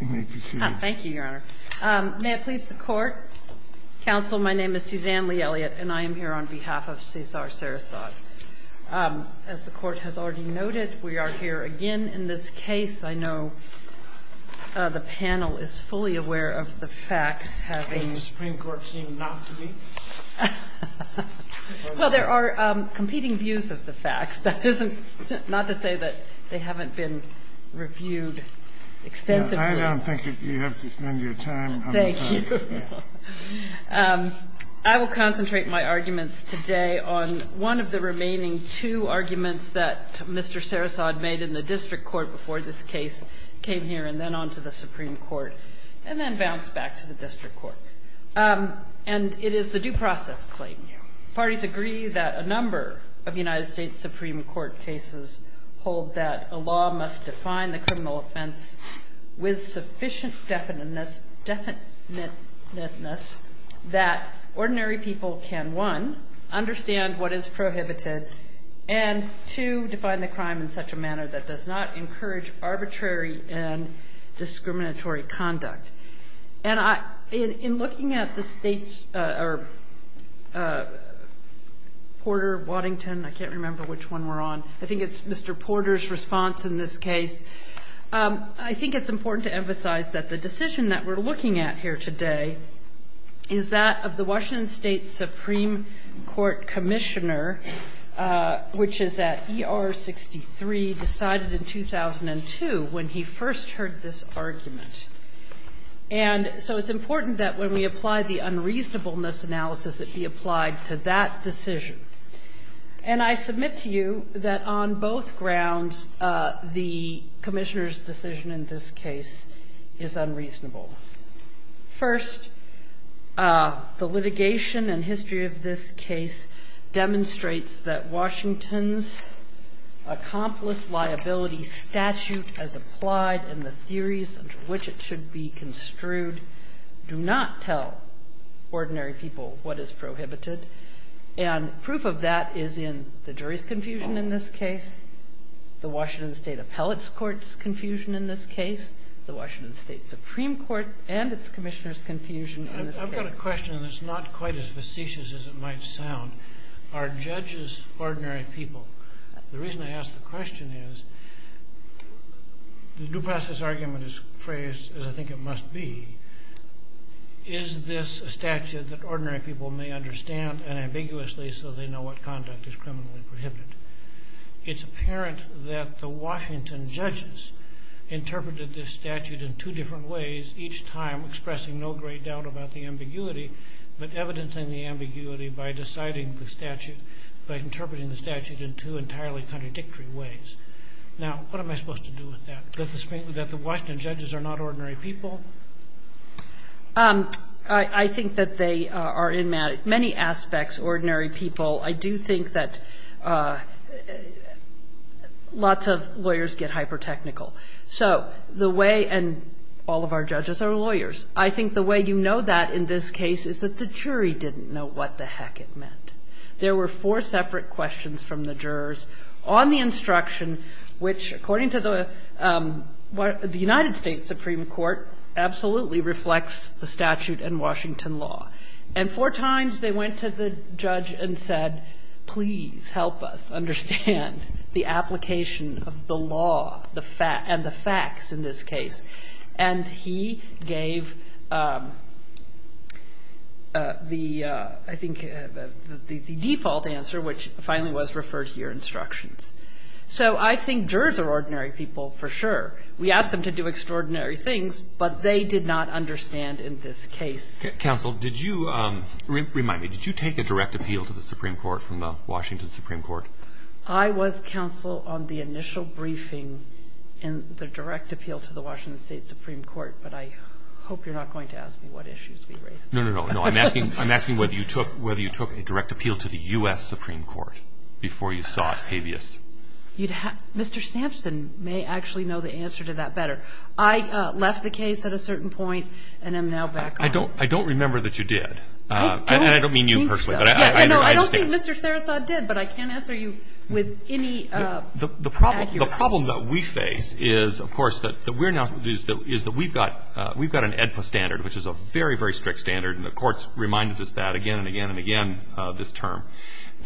Thank you, Your Honor. May it please the Court? Counsel, my name is Suzanne Lee Elliott, and I am here on behalf of Cesar Sarasad. As the Court has already noted, we are here again in this case. I know the panel is fully aware of the facts, having… The Supreme Court seemed not to be. Well, there are competing views of the facts. That is not to say that they haven't been reviewed extensively. I don't think you have to spend your time on the facts. I will concentrate my arguments today on one of the remaining two arguments that Mr. Sarasad made in the district court before this case came here and then on to the Supreme Court and then bounce back to the district court. And it is the due process claim. Parties agree that a number of United States Supreme Court cases hold that a law must define the criminal offense with sufficient definiteness that ordinary people can, one, understand what is prohibited and, two, define the crime in such a manner that does not encourage arbitrary and discriminatory conduct. And in looking at the state's… Porter, Waddington, I can't remember which one we're on. I think it's Mr. Porter's response in this case. I think it's important to emphasize that the decision that we're looking at here today is that of the Washington State Supreme Court commissioner, which is at ER 63, decided in 2002 when he first heard this argument. And so it's important that when we apply the unreasonableness analysis, it be applied to that decision. And I submit to you that on both grounds, the commissioner's decision in this case is unreasonable. First, the litigation and history of this case demonstrates that Washington's accomplice liability statute as applied and the theories under which it should be construed do not tell ordinary people what is prohibited. And proof of that is in the jury's confusion in this case, the Washington State Appellate's Court's confusion in this case, the Washington State Supreme Court and its commissioner's confusion in this case. I've got a question that's not quite as facetious as it might sound. Are judges ordinary people? The reason I ask the question is, the due process argument is phrased as I think it must be. Is this a statute that ordinary people may understand unambiguously so they know what conduct is criminally prohibited? It's apparent that the Washington judges interpreted this statute in two different ways, each time expressing no great doubt about the ambiguity, but evidencing the ambiguity by deciding the statute, by interpreting the statute in two entirely contradictory ways. Now, what am I supposed to do with that? That the Washington judges are not ordinary people? I think that they are in many aspects ordinary people. I do think that lots of lawyers get hypertechnical. So the way — and all of our judges are lawyers. I think the way you know that in this case is that the jury didn't know what the heck it meant. There were four separate questions from the jurors on the instruction, which, according to the — the United States Supreme Court absolutely reflects the statute and Washington law. And four times they went to the judge and said, please help us understand the application of the law, the — and the facts in this case. And he gave the — I think the default answer, which finally was, refer to your instructions. So I think jurors are ordinary people for sure. We asked them to do extraordinary things, but they did not understand in this case. Counsel, did you — remind me, did you take a direct appeal to the Supreme Court from the Washington Supreme Court? I was counsel on the initial briefing in the direct appeal to the Washington State Supreme Court, but I hope you're not going to ask me what issues we raised. No, no, no. I'm asking — I'm asking whether you took — whether you took a direct appeal to the U.S. Supreme Court before you sought habeas. You'd have — Mr. Sampson may actually know the answer to that better. I left the case at a certain point and am now back on it. I don't — I don't remember that you did. I don't think so. And I don't mean you personally, but I understand. No, I don't think Mr. Sarasot did, but I can't answer you with any accuracy. The problem that we face is, of course, that we're now — is that we've got — we've got an AEDPA standard, which is a very, very strict standard, and the Court's reminded us that again and again and again this term.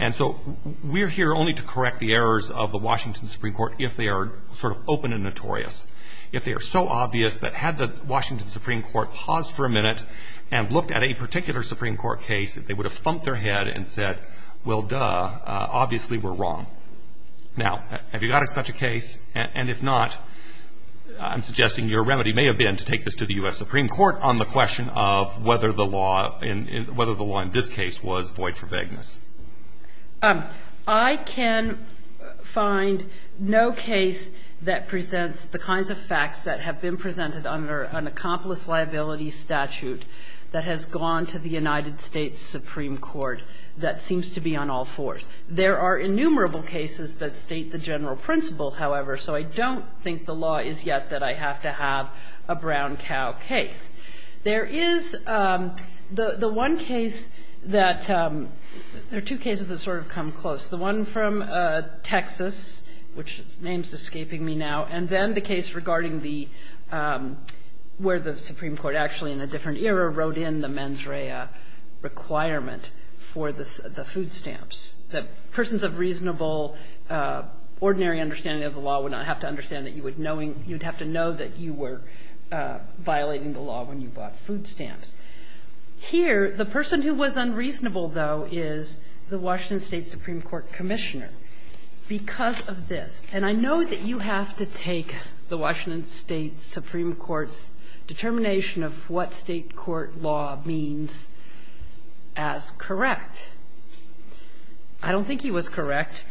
And so we're here only to correct the errors of the Washington Supreme Court if they are sort of open and notorious, if they are so obvious that had the Washington Supreme Court paused for a minute and looked at a particular Supreme Court case, they would have thumped their head and said, well, duh, obviously we're wrong. Now, have you got such a case? And if not, I'm suggesting your remedy may have been to take this to the U.S. Supreme Court on the question of whether the law in — whether the law in this case was void for vagueness. I can find no case that presents the kinds of facts that have been presented under an United States Supreme Court that seems to be on all fours. There are innumerable cases that state the general principle, however, so I don't think the law is yet that I have to have a brown cow case. There is — the one case that — there are two cases that sort of come close, the one from Texas, which its name is escaping me now, and then the case regarding the — where the Supreme Court actually, in a different era, wrote in the mens rea requirement for the food stamps, that persons of reasonable, ordinary understanding of the law would not have to understand that you would knowing — you'd have to know that you were violating the law when you bought food stamps. Here, the person who was unreasonable, though, is the Washington State Supreme Court Commissioner. Because of this — and I know that you have to take the Washington State Supreme Court's determination of what State court law means as correct. I don't think he was correct,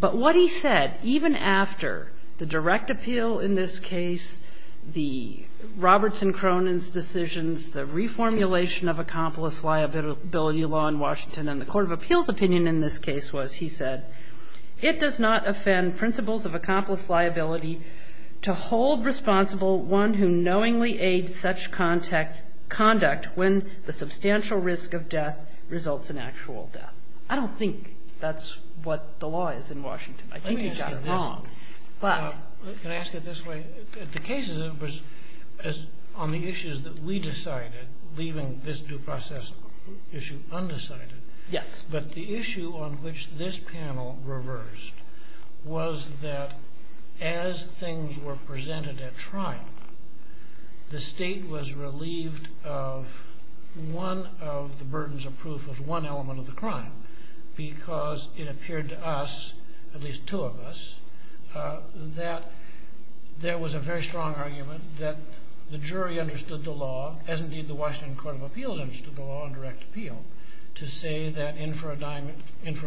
but what he said, even after the direct appeal in this case, the Roberts and Cronin's decisions, the reformulation of accomplice liability law in Washington and the court of appeals opinion in this case was, he said, it does not offend principles of accomplice liability to hold responsible one who knowingly aids such conduct when the substantial risk of death results in actual death. I don't think that's what the law is in Washington. I think he got it wrong, but — Let me ask you this. Can I ask it this way? The cases on the issues that we decided, leaving this due process issue undecided, but the issue on which this panel reversed was that as things were presented at trial, the state was relieved of one of the burdens of proof of one element of the crime because it appeared to us, at least two of us, that there was a very strong argument that the jury understood the law, as indeed the Washington court of appeals understood the law on direct appeal, to say that in for a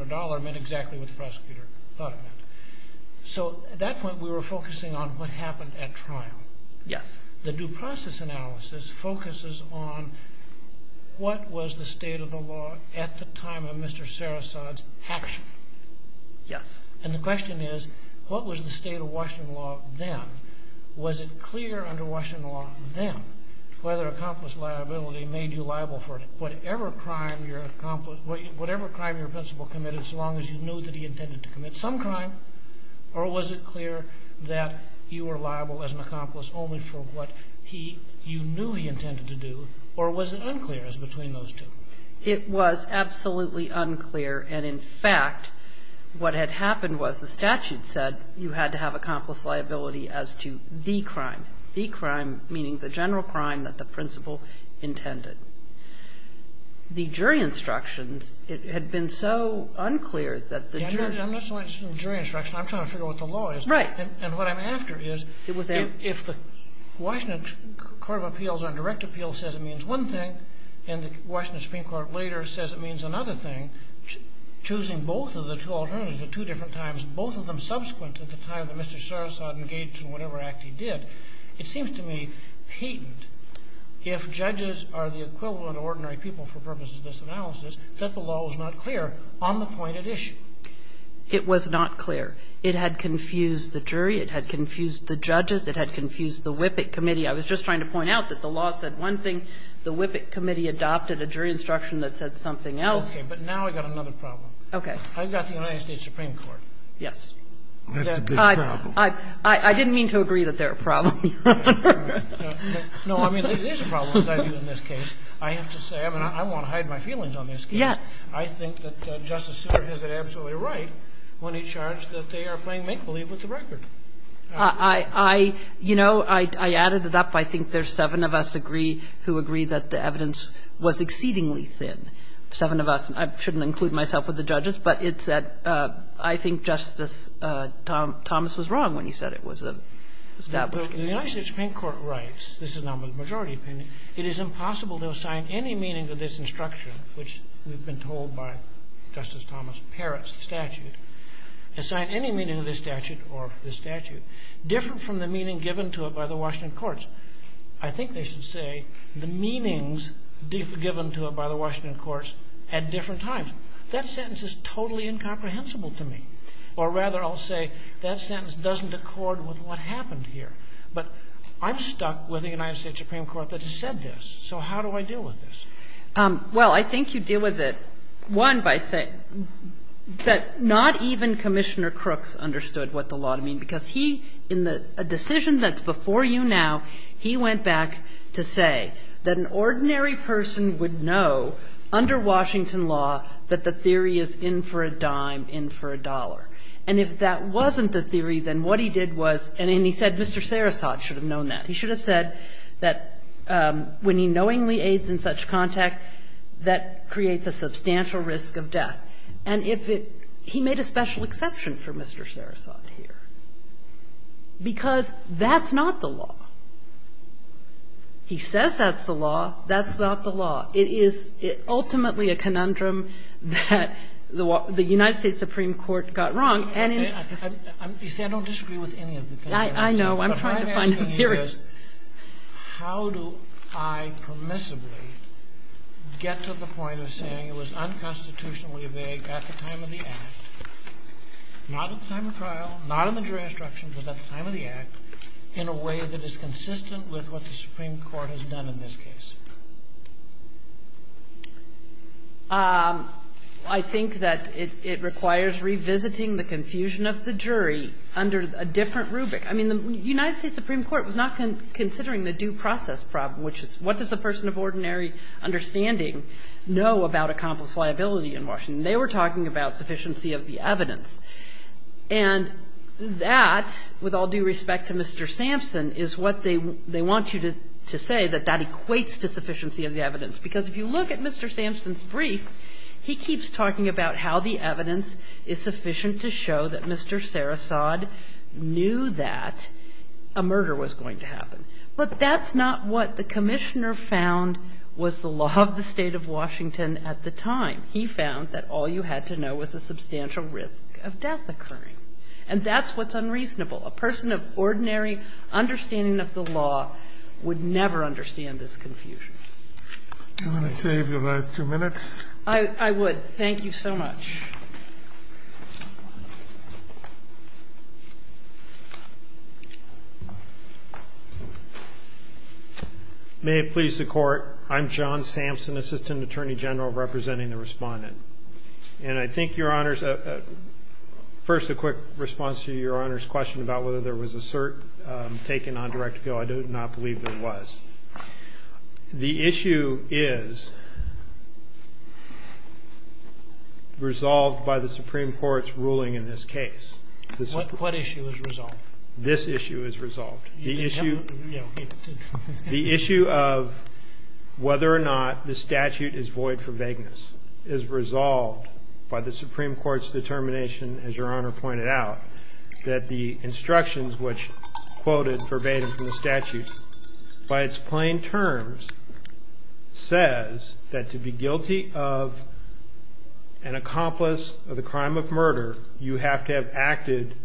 dollar meant exactly what the prosecutor thought it meant. So at that point, we were focusing on what happened at trial. The due process analysis focuses on what was the state of the law at the time of Mr. Sarasot's action. And the state of Washington law then. Was it clear under Washington law then whether accomplice liability made you liable for whatever crime your accomplice — whatever crime your principal committed so long as you knew that he intended to commit some crime? Or was it clear that you were liable as an accomplice only for what he — you knew he intended to do? Or was it unclear as between those two? It was absolutely unclear. And in fact, what had happened was the statute said you had to have accomplice liability as to the crime. The crime meaning the general crime that the principal intended. The jury instructions, it had been so unclear that the jury — Yeah, I'm not so interested in the jury instructions. I'm trying to figure out what the law is. Right. And what I'm after is if the Washington court of appeals on direct appeal says it means one thing and the Washington Supreme Court later says it means another thing, choosing both of the two alternatives at two different times, both of them subsequent at the time that Mr. Sarasot engaged in whatever act he did. It seems to me patent if judges are the equivalent of ordinary people for purposes of this analysis that the law was not clear on the point at issue. It was not clear. It had confused the jury. It had confused the judges. It had confused the WIPC committee. I was just trying to point out that the law said one thing. The WIPC committee adopted a jury instruction that said something else. Okay. But now I've got another problem. Okay. I've got the United States Supreme Court. Yes. That's a big problem. I didn't mean to agree that they're a problem, Your Honor. No, I mean, it is a problem, as I view in this case. I have to say, I mean, I won't hide my feelings on this case. Yes. I think that Justice Souter has it absolutely right when he charged that they are playing make-believe with the record. I, you know, I added it up. I think there's seven of us who agree that the evidence was exceedingly thin. Seven of us. I shouldn't include myself with the judges, but it's that I think Justice Thomas was wrong when he said it was an established case. The United States Supreme Court writes, this is not my majority opinion, it is impossible to assign any meaning to this instruction, which we've been told by Justice Thomas Parrott's statute, assign any meaning to this statute or this statute different from the meaning given to it by the Washington courts. I think they should say the meanings given to it by the Washington courts at different times. That sentence is totally incomprehensible to me. Or rather, I'll say that sentence doesn't accord with what happened here. But I'm stuck with the United States Supreme Court that has said this. So how do I deal with this? Well, I think you deal with it, one, by saying that not even Commissioner Crooks understood what the law to mean, because he, in a decision that's before you now, he went back to say that an ordinary person would know under Washington law that the theory is in for a dime, in for a dollar. And if that wasn't the theory, then what he did was, and he said Mr. Sarasot should have known that. He should have said that when he knowingly aids in such contact, that creates a substantial risk of death. And if it – he made a special exception for Mr. Sarasot here, because that's not the law. He says that's the law. That's not the law. It is ultimately a conundrum that the United States Supreme Court got wrong. And if – I'm – you see, I don't disagree with any of the things that I said. I know. I'm trying to find a theory. But I'm asking you this. How do I permissibly get to the point of saying it was unconstitutionally vague at the time of the Act, not at the time of trial, not in the jury instructions, but at the time of the Act, in a way that is consistent with what the Supreme Court has done in this case? I think that it requires revisiting the confusion of the jury under a different rubric. I mean, the United States Supreme Court was not considering the due process problem, which is what does a person of ordinary understanding know about accomplice liability in Washington. They were talking about sufficiency of the evidence. And that, with all due respect to Mr. Sampson, is what they want you to say, that that equates to sufficiency of the evidence, because if you look at Mr. Sampson's brief, he keeps talking about how the evidence is sufficient to show that Mr. Sarasot knew that a murder was going to happen. But that's not what the Commissioner found was the law of the State of Washington at the time. He found that all you had to know was a substantial risk of death occurring. And that's what's unreasonable. A person of ordinary understanding of the law would never understand this confusion. Kennedy. Do you want to save your last two minutes? I would. Thank you so much. May it please the Court. I'm John Sampson, Assistant Attorney General, representing the Respondent. And I think, Your Honors, first a quick response to Your Honors' question about whether there was a cert taken on direct appeal. I do not believe there was. The issue is resolved by the Supreme Court's ruling in this case. What issue is resolved? This issue is resolved. The issue of whether or not the statute is void for vagueness is resolved by the Supreme Court's determination, as Your Honor pointed out, that the instructions which quoted verbatim from the statute, by its plain terms, says that to be guilty of an accomplice of the crime of murder, you have to have acted,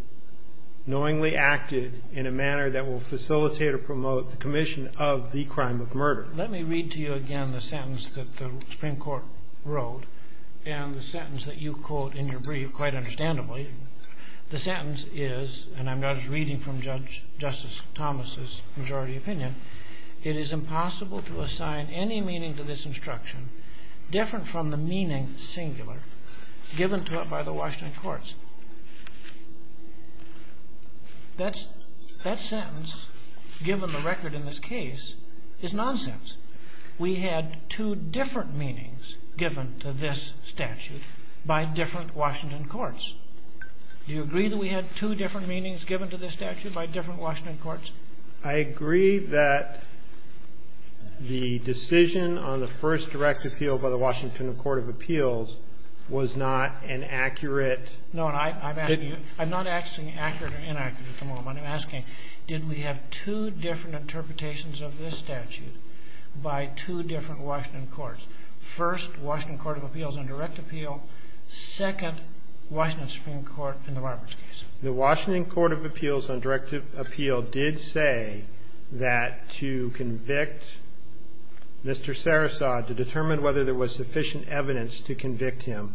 knowingly acted, in a manner that will facilitate or promote the commission of the crime of murder. Let me read to you again the sentence that the Supreme Court wrote and the sentence that you quote in your brief quite understandably. The sentence is, and I'm just reading from Justice Thomas' majority opinion, it is impossible to assign any meaning to this instruction different from the meaning singular given to it by the Washington courts. That sentence, given the record in this case, is nonsense. We had two different meanings given to this statute by different Washington courts. Do you agree that we had two different meanings given to this statute by different Washington courts? I agree that the decision on the first direct appeal by the Washington Court of Appeals was not an accurate... No, and I'm asking you, I'm not asking accurate or inaccurate at the moment. I'm asking, did we have two different interpretations of this statute by two different Washington courts? First, Washington Court of Appeals on direct appeal. Second, Washington Supreme Court in the Roberts case. The Washington Court of Appeals on direct appeal did say that to convict Mr. Sarasod, to determine whether there was sufficient evidence to convict him,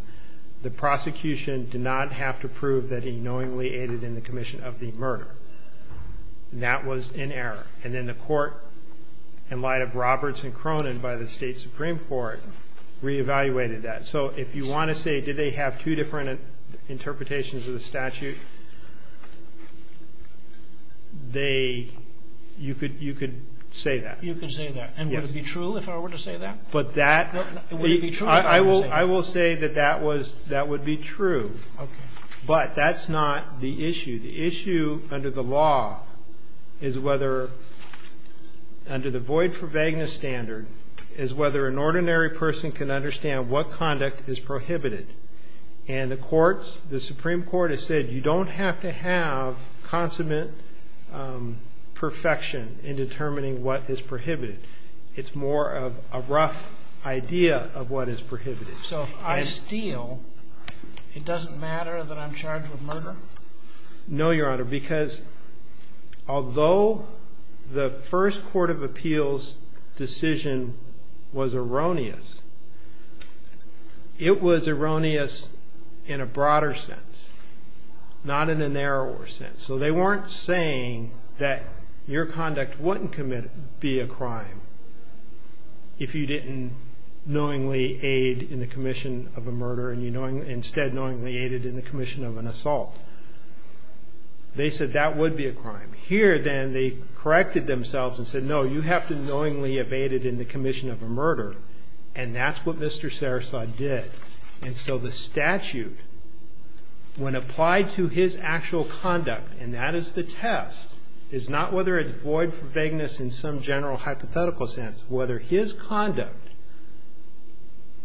the prosecution did not have to prove that he knowingly aided in the commission of the murder. That was in error. And then the court, in light of Roberts and Cronin by the State Supreme Court, reevaluated that. So if you want to say, did they have two different interpretations of the statute, they, you could say that. You could say that. And would it be true if I were to say that? But that... Would it be true? I will say that that was, that would be true. Okay. But that's not the issue. The issue under the law is whether, under the void for vagueness standard, is whether an ordinary person can understand what conduct is prohibited. And the courts, the Supreme Court has said, you don't have to have consummate perfection in determining what is prohibited. It's more of a rough idea of what is prohibited. So if I steal, it doesn't matter that I'm charged with murder? No, Your Honor, because although the first court of appeals decision was erroneous, it was erroneous in a broader sense, not in a narrower sense. So they weren't saying that your conduct wouldn't be a crime if you didn't knowingly aid in the commission of a murder and instead knowingly aided in the commission of an assault. They said that would be a crime. Here, then, they corrected themselves and said, no, you have to knowingly have aided in the commission of a murder, and that's what Mr. Sarasot did. And so the statute, when applied to his actual conduct, and that is the test, is not whether it's void for vagueness in some general hypothetical sense, whether his conduct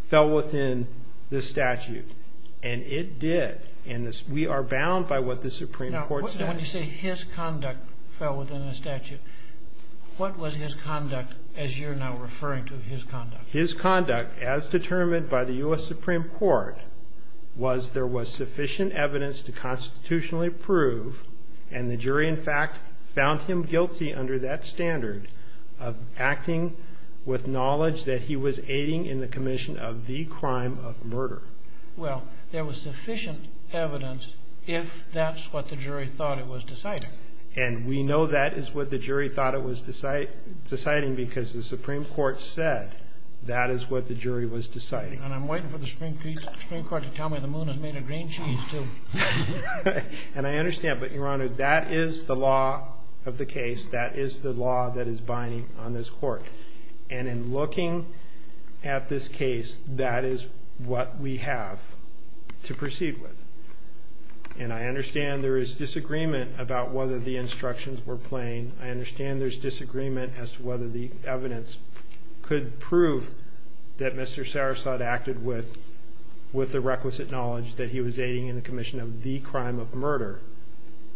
fell within the statute. And it did, and we are bound by what the Supreme Court says. Now, when you say his conduct fell within the statute, what was his conduct as you're now referring to his conduct? His conduct, as determined by the U.S. Supreme Court, was there was sufficient evidence to constitutionally prove, and the jury, in fact, found him guilty under that standard of acting with knowledge that he was aiding in the commission of the crime of murder. Well, there was sufficient evidence if that's what the jury thought it was deciding. And we know that is what the jury thought it was deciding because the Supreme Court said that is what the jury was deciding. And I'm waiting for the Supreme Court to tell me the moon is made of green cheese, too. And I understand, but, Your Honor, that is the law of the case. That is the law that is binding on this court. And in looking at this case, that is what we have to proceed with. And I understand there is disagreement about whether the instructions were plain. I understand there's disagreement as to whether the evidence could prove that Mr. Sarasota acted with the requisite knowledge that he was aiding in the commission of the crime of murder.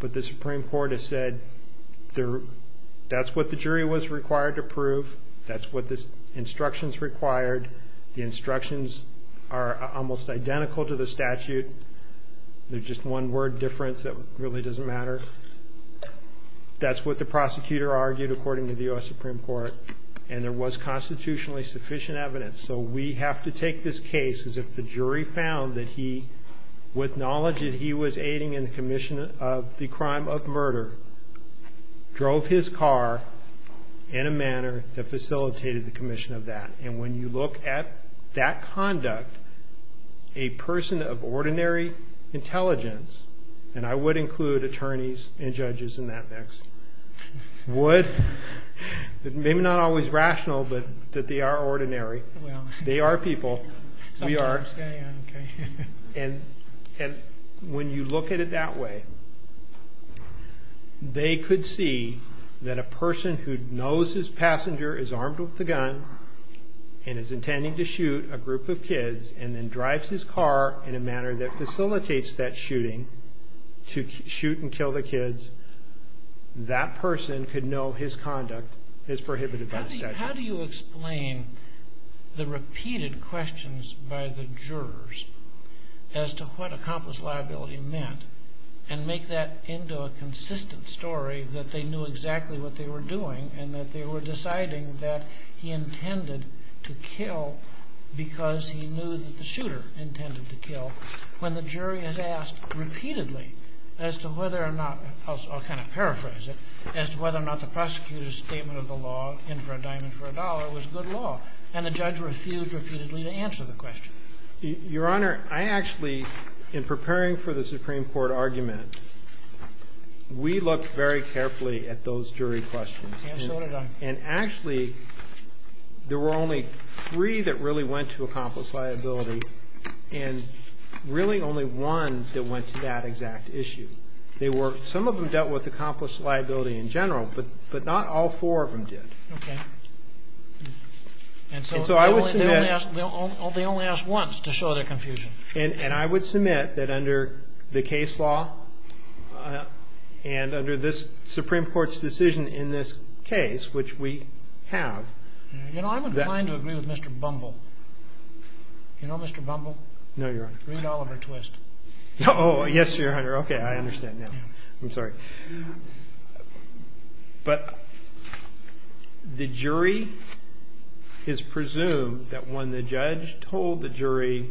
But the Supreme Court has said that's what the jury was required to prove. That's what the instructions required. The instructions are almost identical to the statute. There's just one word difference that really doesn't matter. That's what the prosecutor argued, according to the U.S. Supreme Court. And there was constitutionally sufficient evidence. So we have to take this case as if the jury found that he, with knowledge that he was aiding in the commission of the crime of murder, drove his car in a manner that facilitated the commission of that. And when you look at that conduct, a person of ordinary intelligence, and I would include attorneys and judges in that mix, would, maybe not always rational, but they are ordinary. They are people. We are. And when you look at it that way, they could see that a person who knows his passenger is armed with a gun and is intending to shoot a group of kids and then drives his car in a manner that facilitates that shooting to shoot and kill the kids, that person could know his conduct is prohibited by the statute. How do you explain the repeated questions by the jurors as to what accomplice liability meant and make that into a consistent story that they knew exactly what they were doing and that they were deciding that he intended to kill because he knew that the shooter intended to kill, when the jury has asked repeatedly as to whether or not, I'll kind of paraphrase it, as to whether or not the prosecutor's statement of the law, in for a dime and for a dollar, was good law. And the judge refused repeatedly to answer the question. Your Honor, I actually, in preparing for the Supreme Court argument, we looked very carefully at those jury questions. And so did I. And actually, there were only three that really went to accomplice liability. And really only one that went to that exact issue. Some of them dealt with accomplice liability in general, but not all four of them did. Okay. And so they only asked once to show their confusion. And I would submit that under the case law and under this Supreme Court's decision in this case, which we have. You know, I'm inclined to agree with Mr. Bumble. You know, Mr. Bumble? No, Your Honor. Read Oliver Twist. Oh, yes, Your Honor. Okay, I understand now. I'm sorry. But the jury is presumed that when the judge told the jury,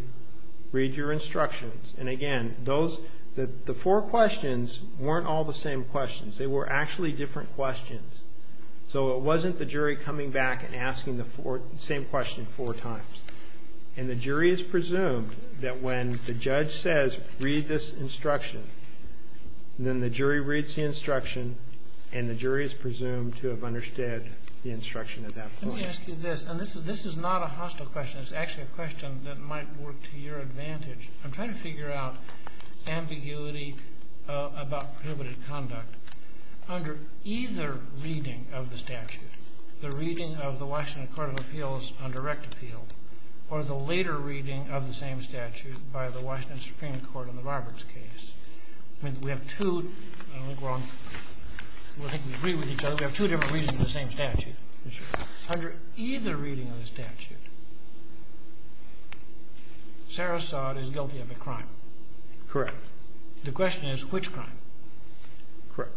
read your instructions. And again, the four questions weren't all the same questions. They were actually different questions. So it wasn't the jury coming back and asking the same question four times. And the jury is presumed that when the judge says, read this instruction, then the jury reads the instruction and the jury is presumed to have understood the instruction at that point. Let me ask you this. And this is not a hostile question. It's actually a question that might work to your advantage. I'm trying to figure out ambiguity about prohibited conduct. Under either reading of the statute, the reading of the Washington Court of Appeals on direct appeal, or the later reading of the same statute by the Washington Supreme Court in the Roberts case, I mean, we have two different reasons for the same statute. Under either reading of the statute, Sarah Saud is guilty of a crime. Correct. The question is, which crime? Correct.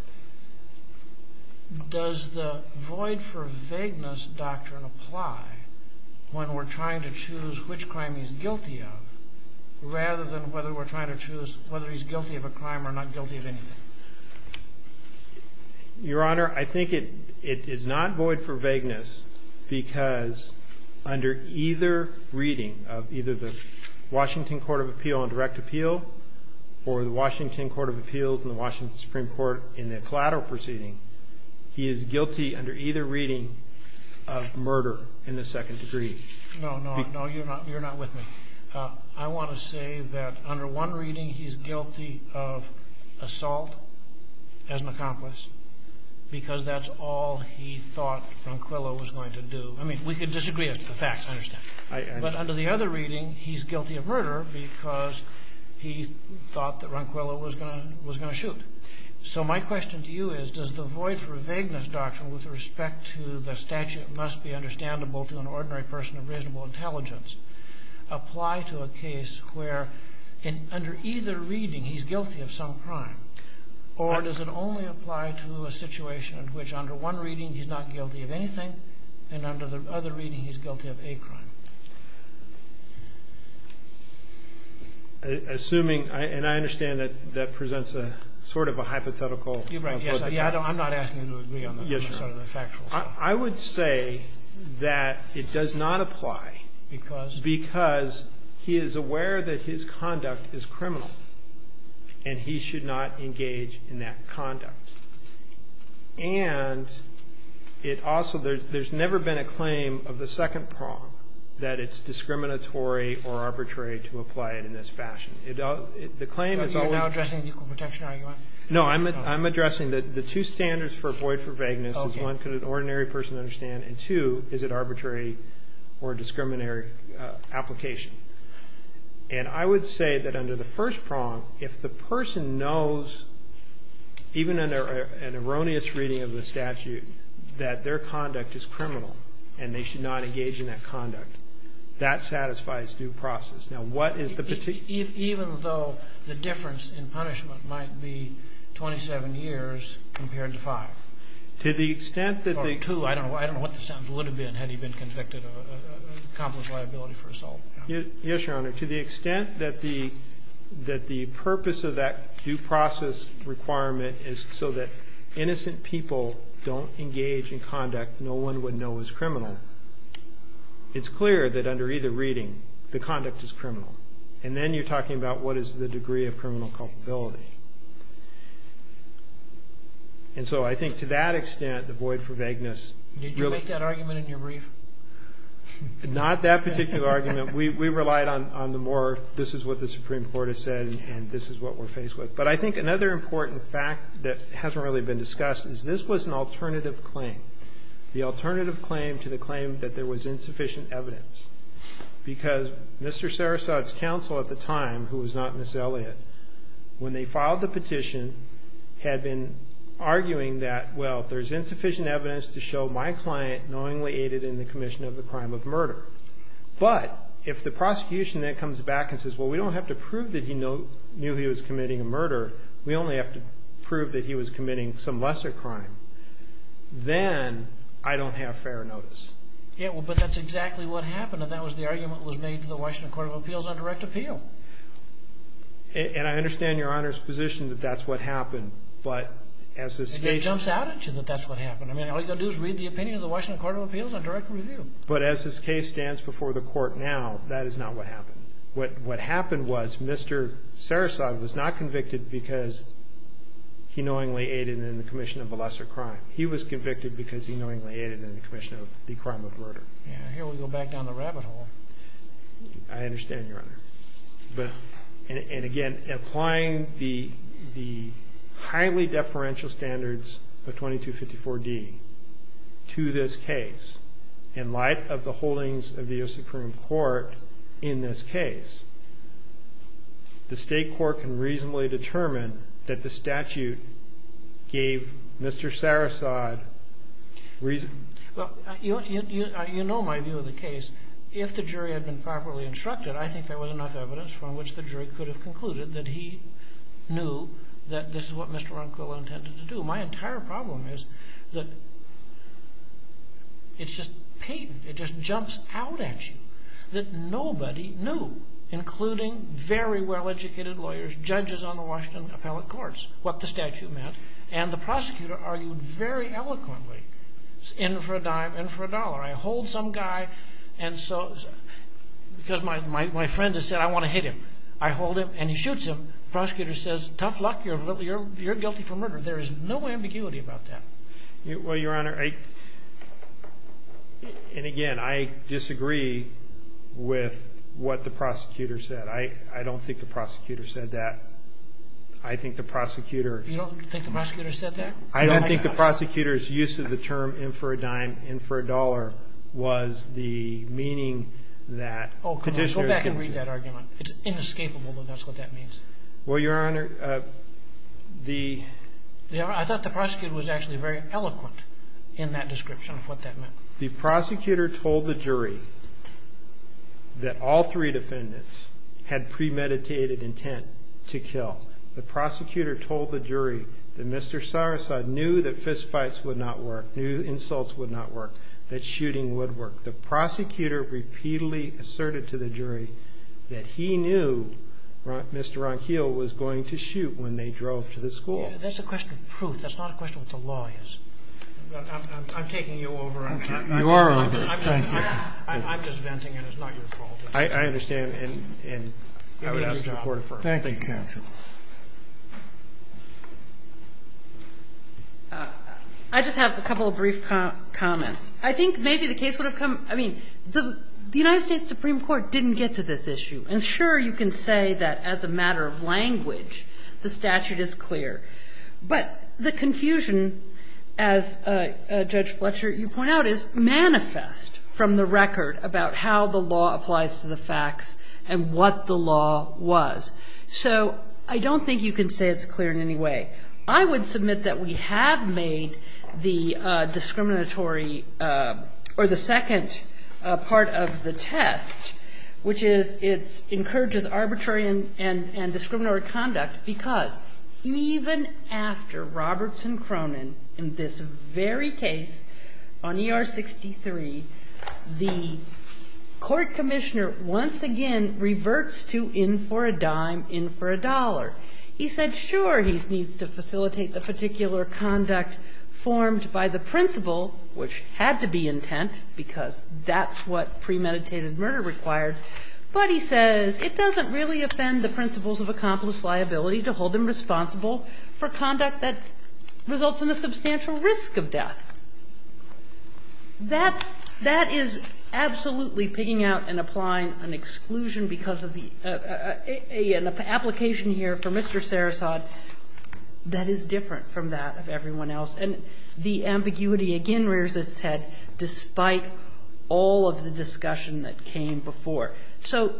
Does the void for vagueness doctrine apply when we're trying to choose which crime he's guilty of rather than whether we're trying to choose whether he's guilty of a crime or not guilty of anything? Your Honor, I think it is not void for vagueness because under either reading of either the Washington Court of Appeal on direct appeal or the Washington Court of Appeals and the Washington Supreme Court in the collateral proceeding, he is guilty under either reading of murder in the second degree. No, no, no. You're not with me. I want to say that under one reading, he's guilty of assault as an accomplice because that's all he thought Ronquillo was going to do. I mean, we could disagree as to the facts. I understand. But under the other reading, he's guilty of murder because he thought that Ronquillo was going to shoot. So my question to you is, does the void for vagueness doctrine with respect to the statute must be understandable to an ordinary person of reasonable intelligence apply to a case where under either reading he's guilty of some crime or does it only apply to a situation in which under one reading he's not guilty of anything and under the other reading he's guilty of a crime? Assuming, and I understand that that presents a sort of a hypothetical. You're right. Yes. I'm not asking you to agree on the factual. I would say that it does not apply. Because? Because he is aware that his conduct is criminal and he should not engage in that conduct. And it also, there's never been a claim of the second prong that it's discriminatory or arbitrary to apply it in this fashion. The claim is always. You're now addressing the equal protection argument? No, I'm addressing the two standards for void for vagueness is one, could an ordinary person understand? And two, is it arbitrary or a discriminatory application? And I would say that under the first prong, if the person knows, even under an erroneous reading of the statute, that their conduct is criminal and they should not engage in that conduct, that satisfies due process. Now, what is the particular? Even though the difference in punishment might be 27 years compared to five. To the extent that the... Or two. I don't know what the sentence would have been had he been convicted of accomplice liability for assault. Yes, Your Honor. To the extent that the purpose of that due process requirement is so that innocent people don't engage in conduct no one would know is criminal, it's clear that under either reading, the conduct is criminal. And then you're talking about what is the degree of criminal culpability. And so I think to that extent, the void for vagueness... Did you make that argument in your brief? Not that particular argument. We relied on the more this is what the Supreme Court has said and this is what we're faced with. But I think another important fact that hasn't really been discussed is this was an alternative claim, the alternative claim to the claim that there was insufficient evidence. Because Mr. Sarasota's counsel at the time, who was not Ms. Elliott, when they filed the petition had been arguing that, well, there's insufficient evidence to show my client knowingly aided in the commission of the crime of murder. But if the prosecution then comes back and says, well, we don't have to prove that he knew he was committing a murder, we only have to prove that he was committing some lesser crime, then I don't have fair notice. Yeah, well, but that's exactly what happened and that was the argument that was made to the Washington Court of Appeals on direct appeal. And I understand Your Honor's position that that's what happened, but as this case... It jumps out at you that that's what happened. All you've got to do is read the opinion of the Washington Court of Appeals on direct review. But as this case stands before the court now, that is not what happened. What happened was Mr. Sarasota was not convicted because he knowingly aided in the commission of a lesser crime. He was convicted because he knowingly aided in the commission of the crime of murder. Yeah, here we go back down the rabbit hole. I understand, Your Honor. And again, applying the highly deferential standards of 2254D to this case in light of the holdings of the U.S. Supreme Court in this case, the State court can reasonably determine that the statute gave Mr. Sarasota reason... Well, you know my view of the case. If the jury had been properly instructed, I think there was enough evidence from which the jury could have concluded that he knew that this is what Mr. Ronquillo intended to do. My entire problem is that it's just patent. It just jumps out at you that nobody knew, including very well-educated lawyers, judges on the Washington appellate courts, what the statute meant. And the prosecutor argued very eloquently, in for a dime, in for a dollar. I hold some guy and so... Because my friend has said I want to hit him. I hold him and he shoots him. The prosecutor says, tough luck, you're guilty for murder. There is no ambiguity about that. Well, Your Honor, and again, I disagree with what the prosecutor said. I don't think the prosecutor said that. I think the prosecutor... You don't think the prosecutor said that? I don't think the prosecutor's use of the term in for a dime, in for a dollar, was the meaning that... Go back and read that argument. It's inescapable that that's what that means. Well, Your Honor, the... I thought the prosecutor was actually very eloquent in that description of what that meant. The prosecutor told the jury that all three defendants had premeditated intent to kill. The prosecutor told the jury that Mr. Sarasota knew that fistfights would not work, knew insults would not work, that shooting would work. The prosecutor repeatedly asserted to the jury that he knew Mr. Ronquillo was going to shoot when they drove to the school. That's a question of proof. That's not a question of what the law is. I'm taking you over on that. You are over. Thank you. I'm just venting it. It's not your fault. I understand, and I would ask the Court of Firms. Thank you, counsel. I just have a couple of brief comments. I think maybe the case would have come... I mean, the United States Supreme Court didn't get to this issue. And sure, you can say that as a matter of language, the statute is clear. But the confusion, as Judge Fletcher, you point out, is manifest from the record about how the law applies to the facts and what the law was. So I don't think you can say it's clear in any way. I would submit that we have made the discriminatory or the second part of the test, which is it encourages arbitrary and discriminatory conduct because even after Roberts and Cronin in this very case on ER 63, the court commissioner once again reverts to in for a dime, in for a dollar. He said, sure, he needs to facilitate the particular conduct formed by the principle, which had to be intent because that's what premeditated murder required. But he says it doesn't really offend the principles of accomplice liability to hold him responsible for conduct that results in a substantial risk of death. That is absolutely pigging out and applying an exclusion because of the application here for Mr. Sarasot that is different from that of everyone else. And the ambiguity again rears its head despite all of the discussion that came before. So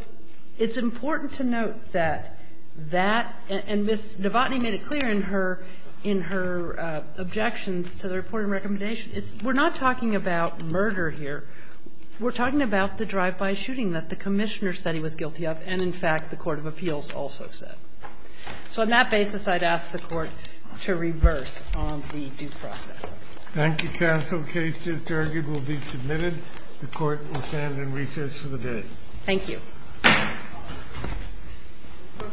it's important to note that that and Ms. Novotny made it clear in her objections to the reporting recommendation. We're not talking about murder here. We're talking about the drive-by shooting that the commissioner said he was guilty of and, in fact, the court of appeals also said. So on that basis, I'd ask the Court to reverse the due process. Thank you, counsel. The case is derogated and will be submitted. The Court will stand in recess for the day. Thank you. This court for this session stands adjourned.